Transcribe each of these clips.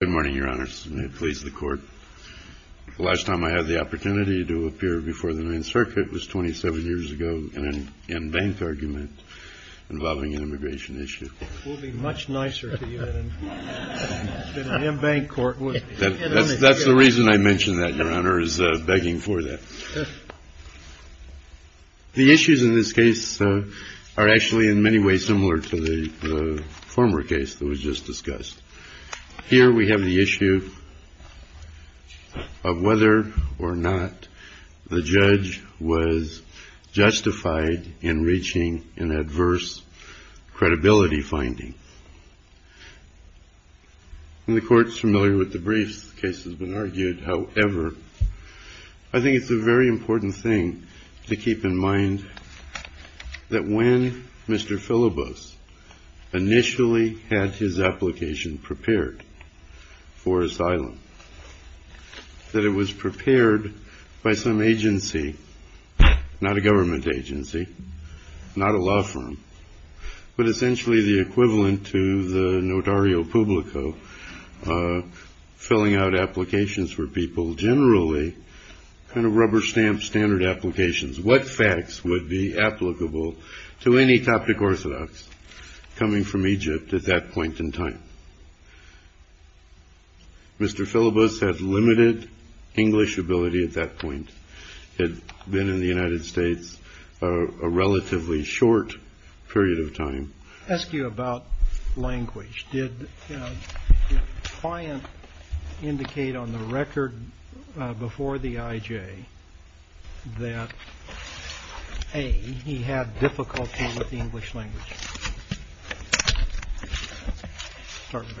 Good morning, Your Honors. May it please the Court. The last time I had the opportunity to appear before the Ninth Circuit was 27 years ago in an M-Bank argument involving an immigration issue. It will be much nicer to you in an M-Bank court. That's the reason I mention that, Your Honor, is begging for that. The issues in this case are actually in many ways similar to the former case that was just discussed. Here we have the issue of whether or not the judge was justified in reaching an adverse credibility finding. The Court is familiar with the briefs. The case has been argued. However, I think it's a very important thing to keep in mind that when Mr. Philobos initially had his application prepared for asylum, that it was prepared by some agency, not a government agency, not a law firm, but essentially the equivalent to the notario publico filling out applications for people, generally kind of rubber stamp standard applications. What facts would be applicable to any Coptic Orthodox coming from Egypt at that point in time? Mr. Philobos had limited English ability at that point. He had been in the United States a relatively short period of time. Let me ask you about language. Did the client indicate on the record before the IJ that, A, he had difficulty with the English language?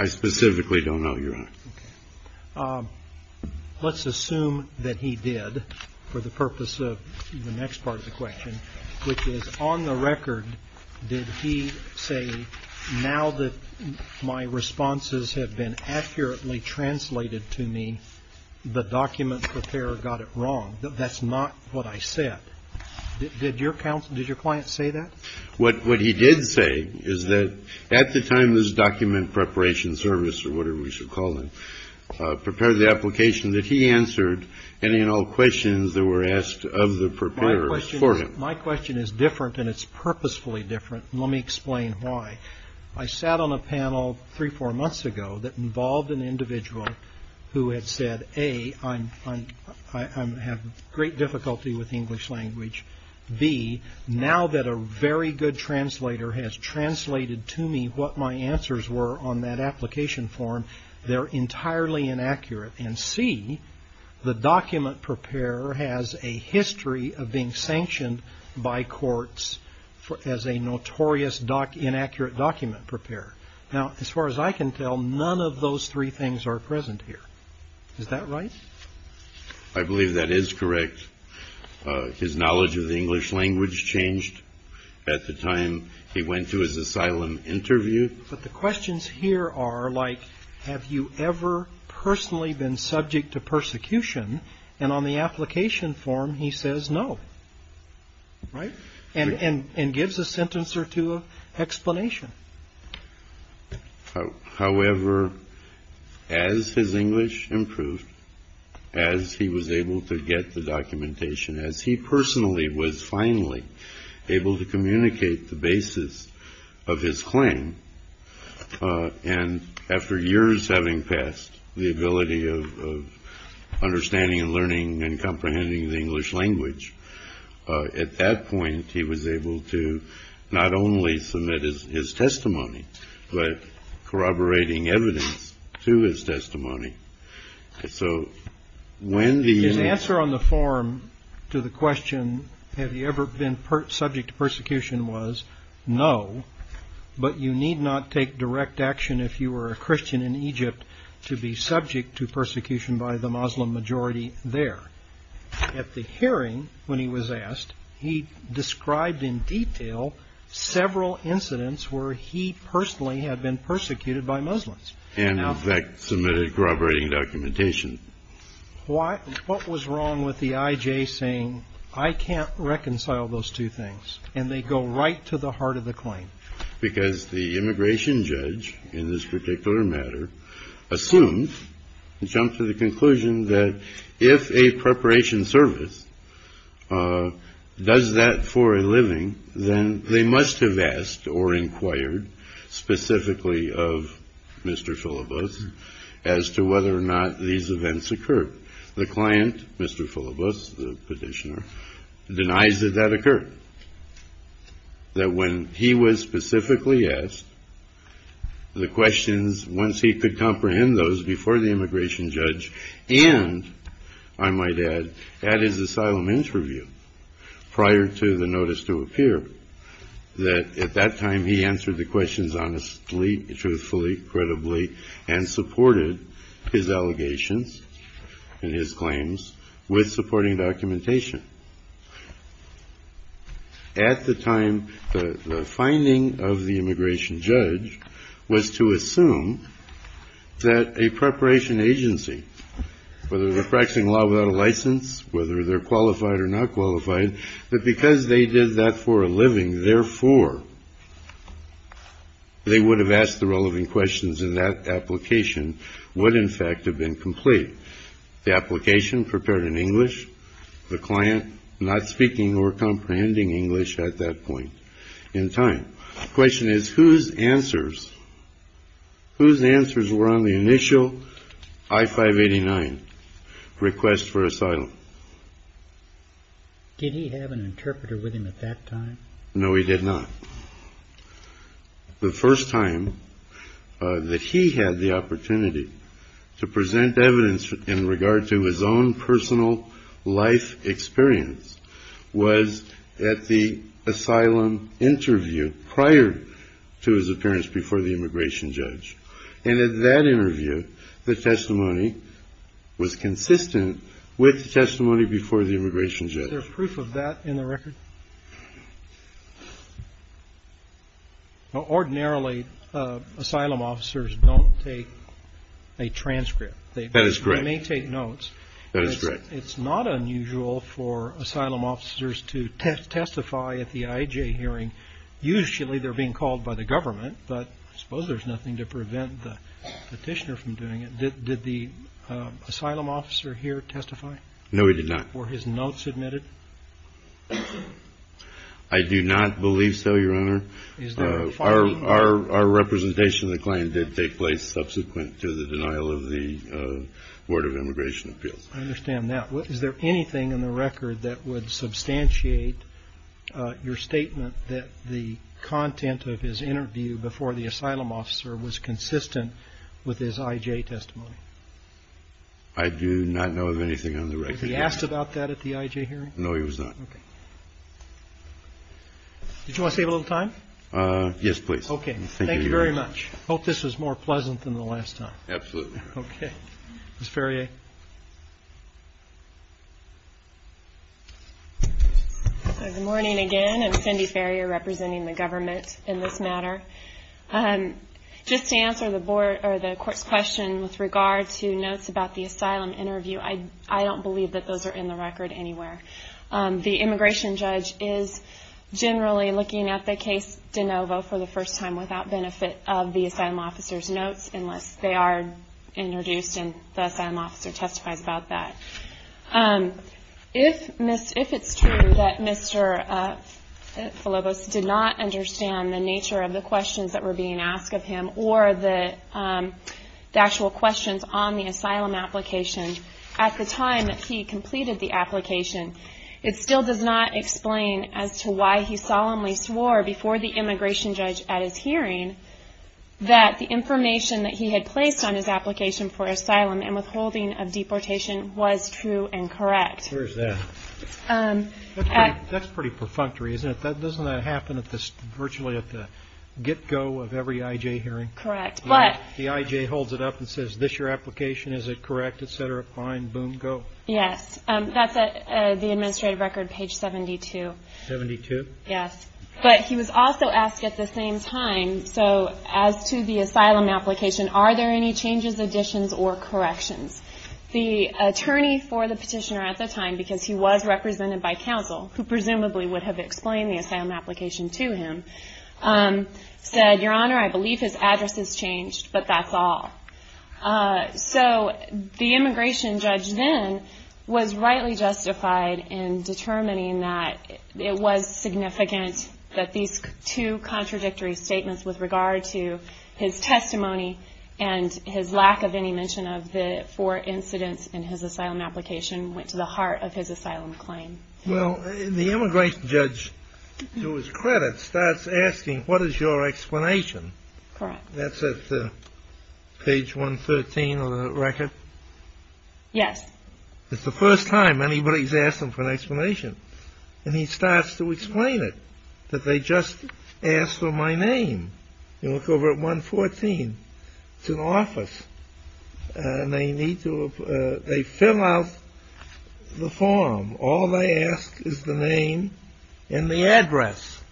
I specifically don't know, Your Honor. Let's assume that he did for the purpose of the next part of the question, which is, on the record, did he say now that my responses have been accurately translated to me, the document preparer got it wrong? That's not what I said. Did your client say that? What he did say is that at the time this document preparation service, or whatever we should call it, prepared the application that he answered, and in all questions that were asked of the preparers for him. My question is different, and it's purposefully different. Let me explain why. I sat on a panel three, four months ago that involved an individual who had said, A, I have great difficulty with English language. B, now that a very good translator has translated to me what my answers were on that application form, they're entirely inaccurate. And C, the document preparer has a history of being sanctioned by courts as a notorious inaccurate document preparer. Now, as far as I can tell, none of those three things are present here. Is that right? I believe that is correct. His knowledge of the English language changed at the time he went to his asylum interview. But the questions here are like, have you ever personally been subject to persecution? And on the application form, he says no. Right. And gives a sentence or two explanation. However, as his English improved, as he was able to get the documentation, as he personally was finally able to communicate the basis of his claim. And after years having passed, the ability of understanding and learning and comprehending the English language. At that point, he was able to not only submit his testimony, but corroborating evidence to his testimony. So when the answer on the form to the question, have you ever been subject to persecution was no. But you need not take direct action if you were a Christian in Egypt to be subject to persecution by the Muslim majority there. At the hearing, when he was asked, he described in detail several incidents where he personally had been persecuted by Muslims. And that submitted corroborating documentation. Why? What was wrong with the IJ saying I can't reconcile those two things and they go right to the heart of the claim? Because the immigration judge in this particular matter assumed and jumped to the conclusion that if a preparation service does that for a living, then they must have asked or inquired specifically of Mr. Phyllis as to whether or not these events occurred. The client, Mr. Phyllis, the petitioner, denies that that occurred. That when he was specifically asked the questions, once he could comprehend those before the immigration judge. And I might add that his asylum interview prior to the notice to appear that at that time he answered the questions honestly, truthfully, credibly, and supported his allegations and his claims with supporting documentation. At the time, the finding of the immigration judge was to assume that a preparation agency, whether they're practicing law without a license, whether they're qualified or not qualified, that because they did that for a living, therefore they would have asked the relevant questions and that application would in fact have been complete. The application prepared in English, the client not speaking or comprehending English at that point in time. The question is whose answers, whose answers were on the initial I-589 request for asylum? Did he have an interpreter with him at that time? No, he did not. The first time that he had the opportunity to present evidence in regard to his own personal life experience was at the asylum interview prior to his appearance before the immigration judge. And at that interview, the testimony was consistent with the testimony before the immigration judge. Is there proof of that in the record? Ordinarily, asylum officers don't take a transcript. That is correct. They may take notes. That is correct. It's not unusual for asylum officers to testify at the IJ hearing. Usually they're being called by the government, but I suppose there's nothing to prevent the petitioner from doing it. Did the asylum officer here testify? No, he did not. Were his notes admitted? I do not believe so, Your Honor. Our representation of the client did take place subsequent to the denial of the Board of Immigration Appeals. I understand that. Is there anything in the record that would substantiate your statement that the content of his interview before the asylum officer was consistent with his IJ testimony? I do not know of anything on the record. Was he asked about that at the IJ hearing? No, he was not. Did you want to save a little time? Yes, please. Thank you very much. I hope this was more pleasant than the last time. Absolutely. Okay. Ms. Farrier? Good morning again. I'm Cindy Farrier, representing the government in this matter. Just to answer the Court's question with regard to notes about the asylum interview, I don't believe that those are in the record anywhere. The immigration judge is generally looking at the case de novo for the first time without benefit of the asylum officer's notes, unless they are introduced and the asylum officer testifies about that. If it's true that Mr. Falobos did not understand the nature of the questions that were being asked of him or the actual questions on the asylum application at the time that he completed the application, it still does not explain as to why he solemnly swore before the immigration judge at his hearing that the information that he had placed on his application for asylum and withholding of deportation was true and correct. Where is that? That's pretty perfunctory, isn't it? Doesn't that happen virtually at the get-go of every IJ hearing? Correct. The IJ holds it up and says, this is your application, is it correct, etc., fine, boom, go. Yes. That's the administrative record, page 72. 72? Yes. But he was also asked at the same time, so as to the asylum application, are there any changes, additions, or corrections? The attorney for the petitioner at the time, because he was represented by counsel, who presumably would have explained the asylum application to him, said, Your Honor, I believe his address has changed, but that's all. So the immigration judge then was rightly justified in determining that it was significant that these two contradictory statements with regard to his testimony and his lack of any mention of the four incidents in his asylum application went to the heart of his asylum claim. Well, the immigration judge, to his credit, starts asking, what is your explanation? Correct. That's at page 113 on the record? Yes. It's the first time anybody's asked him for an explanation. And he starts to explain it, that they just asked for my name. You look over at 114. It's an office. And they need to, they fill out the form. All they ask is the name and the address.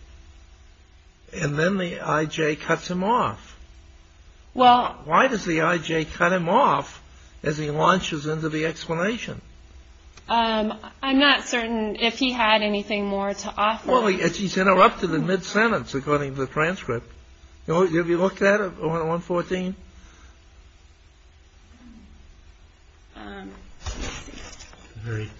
And then the I.J. cuts him off. Well. Why does the I.J. cut him off as he launches into the explanation? I'm not certain if he had anything more to offer. Well, he's interrupted in mid-sentence, according to the transcript. Have you looked at it, 114? It's at the very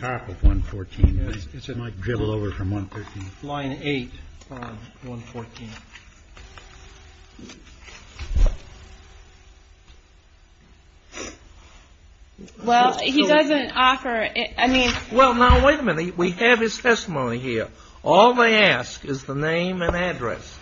top of 114. It might dribble over from 113. Line 8 from 114. Well, he doesn't offer, I mean. Well, now, wait a minute. We have his testimony here. All they ask is the name and address.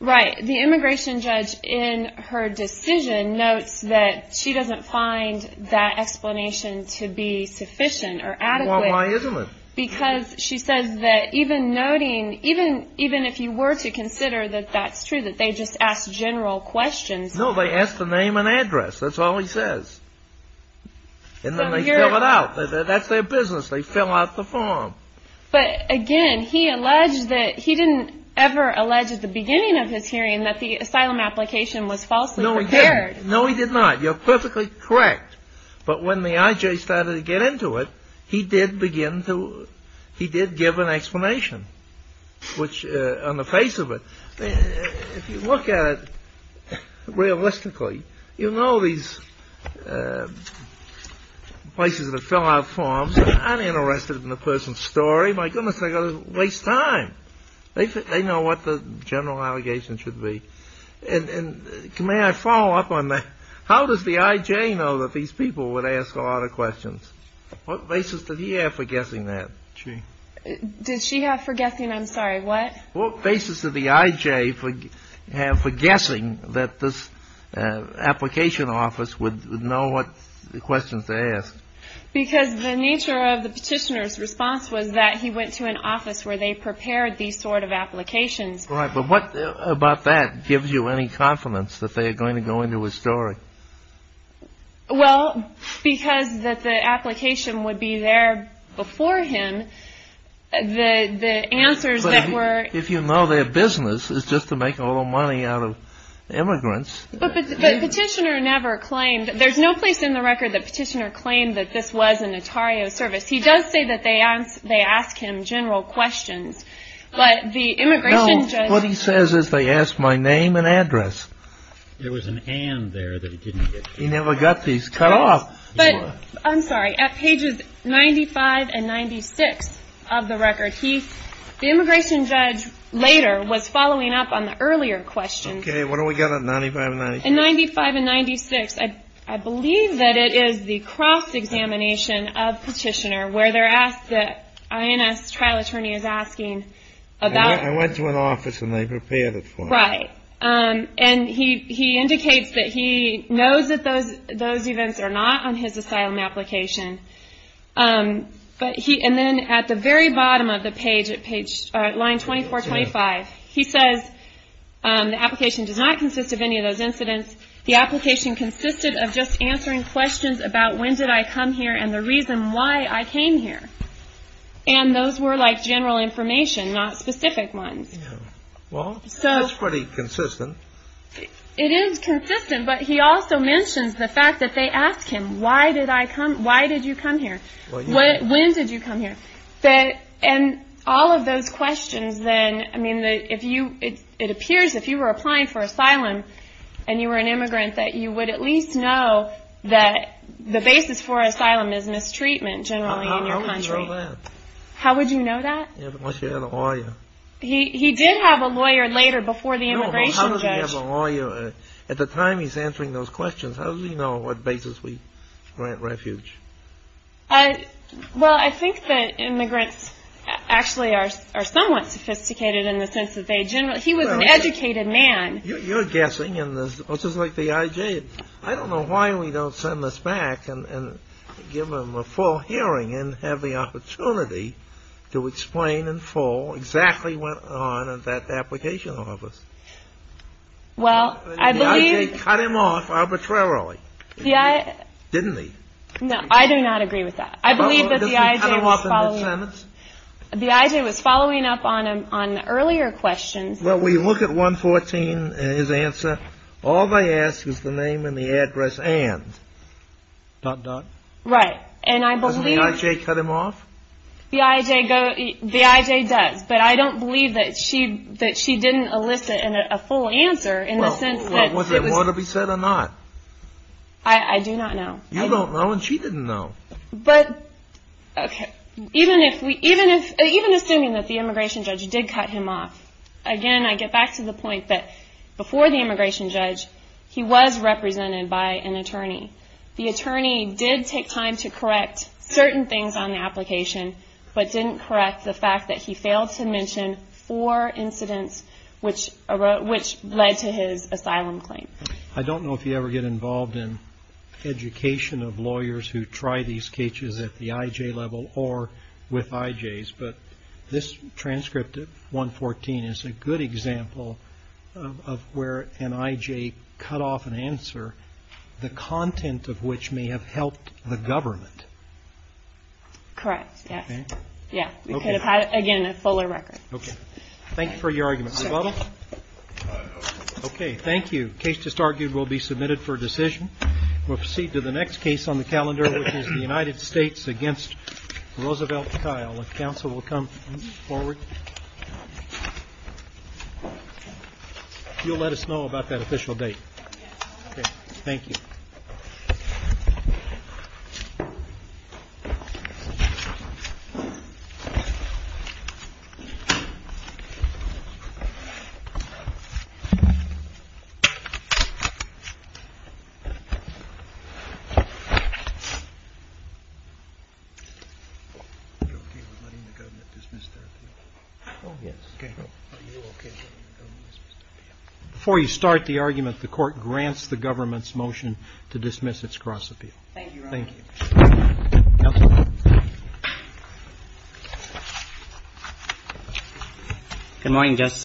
Right. The immigration judge, in her decision, notes that she doesn't find that explanation to be sufficient or adequate. Well, why isn't it? Because she says that even noting, even if you were to consider that that's true, that they just asked general questions. No, they ask the name and address. That's all he says. And then they fill it out. That's their business. They fill out the form. But, again, he alleged that he didn't ever allege at the beginning of his hearing that the asylum application was falsely prepared. No, he didn't. No, he did not. You're perfectly correct. But when the IJ started to get into it, he did begin to, he did give an explanation, which, on the face of it, if you look at it realistically, you know these places that fill out forms aren't interested in the person's story. My goodness, they're going to waste time. They know what the general allegation should be. And may I follow up on that? How does the IJ know that these people would ask a lot of questions? What basis did he have for guessing that? Did she have for guessing? I'm sorry, what? What basis did the IJ have for guessing that this application office would know what questions to ask? Because the nature of the petitioner's response was that he went to an office where they prepared these sort of applications. Right, but what about that gives you any confidence that they are going to go into his story? Well, because the application would be there before him, the answers that were... But if you know their business, it's just to make all the money out of immigrants. But the petitioner never claimed, there's no place in the record that the petitioner claimed that this was an Atario service. He does say that they ask him general questions, but the immigration judge... No, what he says is they ask my name and address. There was an and there that he didn't get to. He never got these cut off. I'm sorry, at pages 95 and 96 of the record, the immigration judge later was following up on the earlier questions. Okay, what do we got at 95 and 96? At 95 and 96, I believe that it is the cross-examination of petitioner where they're asked, the INS trial attorney is asking about... Right, and he indicates that he knows that those events are not on his asylum application. And then at the very bottom of the page, at line 2425, he says the application does not consist of any of those incidents. The application consisted of just answering questions about when did I come here and the reason why I came here. And those were like general information, not specific ones. Well, that's pretty consistent. It is consistent, but he also mentions the fact that they ask him, why did you come here? When did you come here? And all of those questions then, I mean, it appears if you were applying for asylum and you were an immigrant, that you would at least know that the basis for asylum is mistreatment generally in your country. How would you know that? How would you know that? Unless you had a lawyer. He did have a lawyer later before the immigration judge. No, but how does he have a lawyer? At the time he's answering those questions, how does he know on what basis we grant refuge? Well, I think that immigrants actually are somewhat sophisticated in the sense that they generally... He was an educated man. You're guessing, which is like the IJ. I don't know why we don't send this back and give him a full hearing and have the opportunity to explain in full exactly what went on in that application office. Well, I believe... The IJ cut him off arbitrarily, didn't he? No, I do not agree with that. I believe that the IJ was following... Does he cut him off in his sentence? The IJ was following up on earlier questions. Well, we look at 114 in his answer. All they ask is the name and the address and. Dot, dot. Right, and I believe... Doesn't the IJ cut him off? The IJ does, but I don't believe that she didn't elicit a full answer in the sense that... Well, was there more to be said or not? I do not know. You don't know and she didn't know. Okay, even assuming that the immigration judge did cut him off. Again, I get back to the point that before the immigration judge, he was represented by an attorney. The attorney did take time to correct certain things on the application, but didn't correct the fact that he failed to mention four incidents which led to his asylum claim. I don't know if you ever get involved in education of lawyers who try these cases at the IJ level or with IJs, but this transcript of 114 is a good example of where an IJ cut off an answer, the content of which may have helped the government. Correct, yes. Okay. Yeah, we could have had, again, a fuller record. Okay. Thank you for your argument. Rebuttal? Okay, thank you. The case just argued will be submitted for decision. We'll proceed to the next case on the calendar, which is the United States against Roosevelt Kyle. If counsel will come forward, you'll let us know about that official date. Yes. Okay, thank you. Before you start the argument, the court grants the government's motion to dismiss its cross-appeal. Thank you. Thank you. Counsel? Good morning, Justice.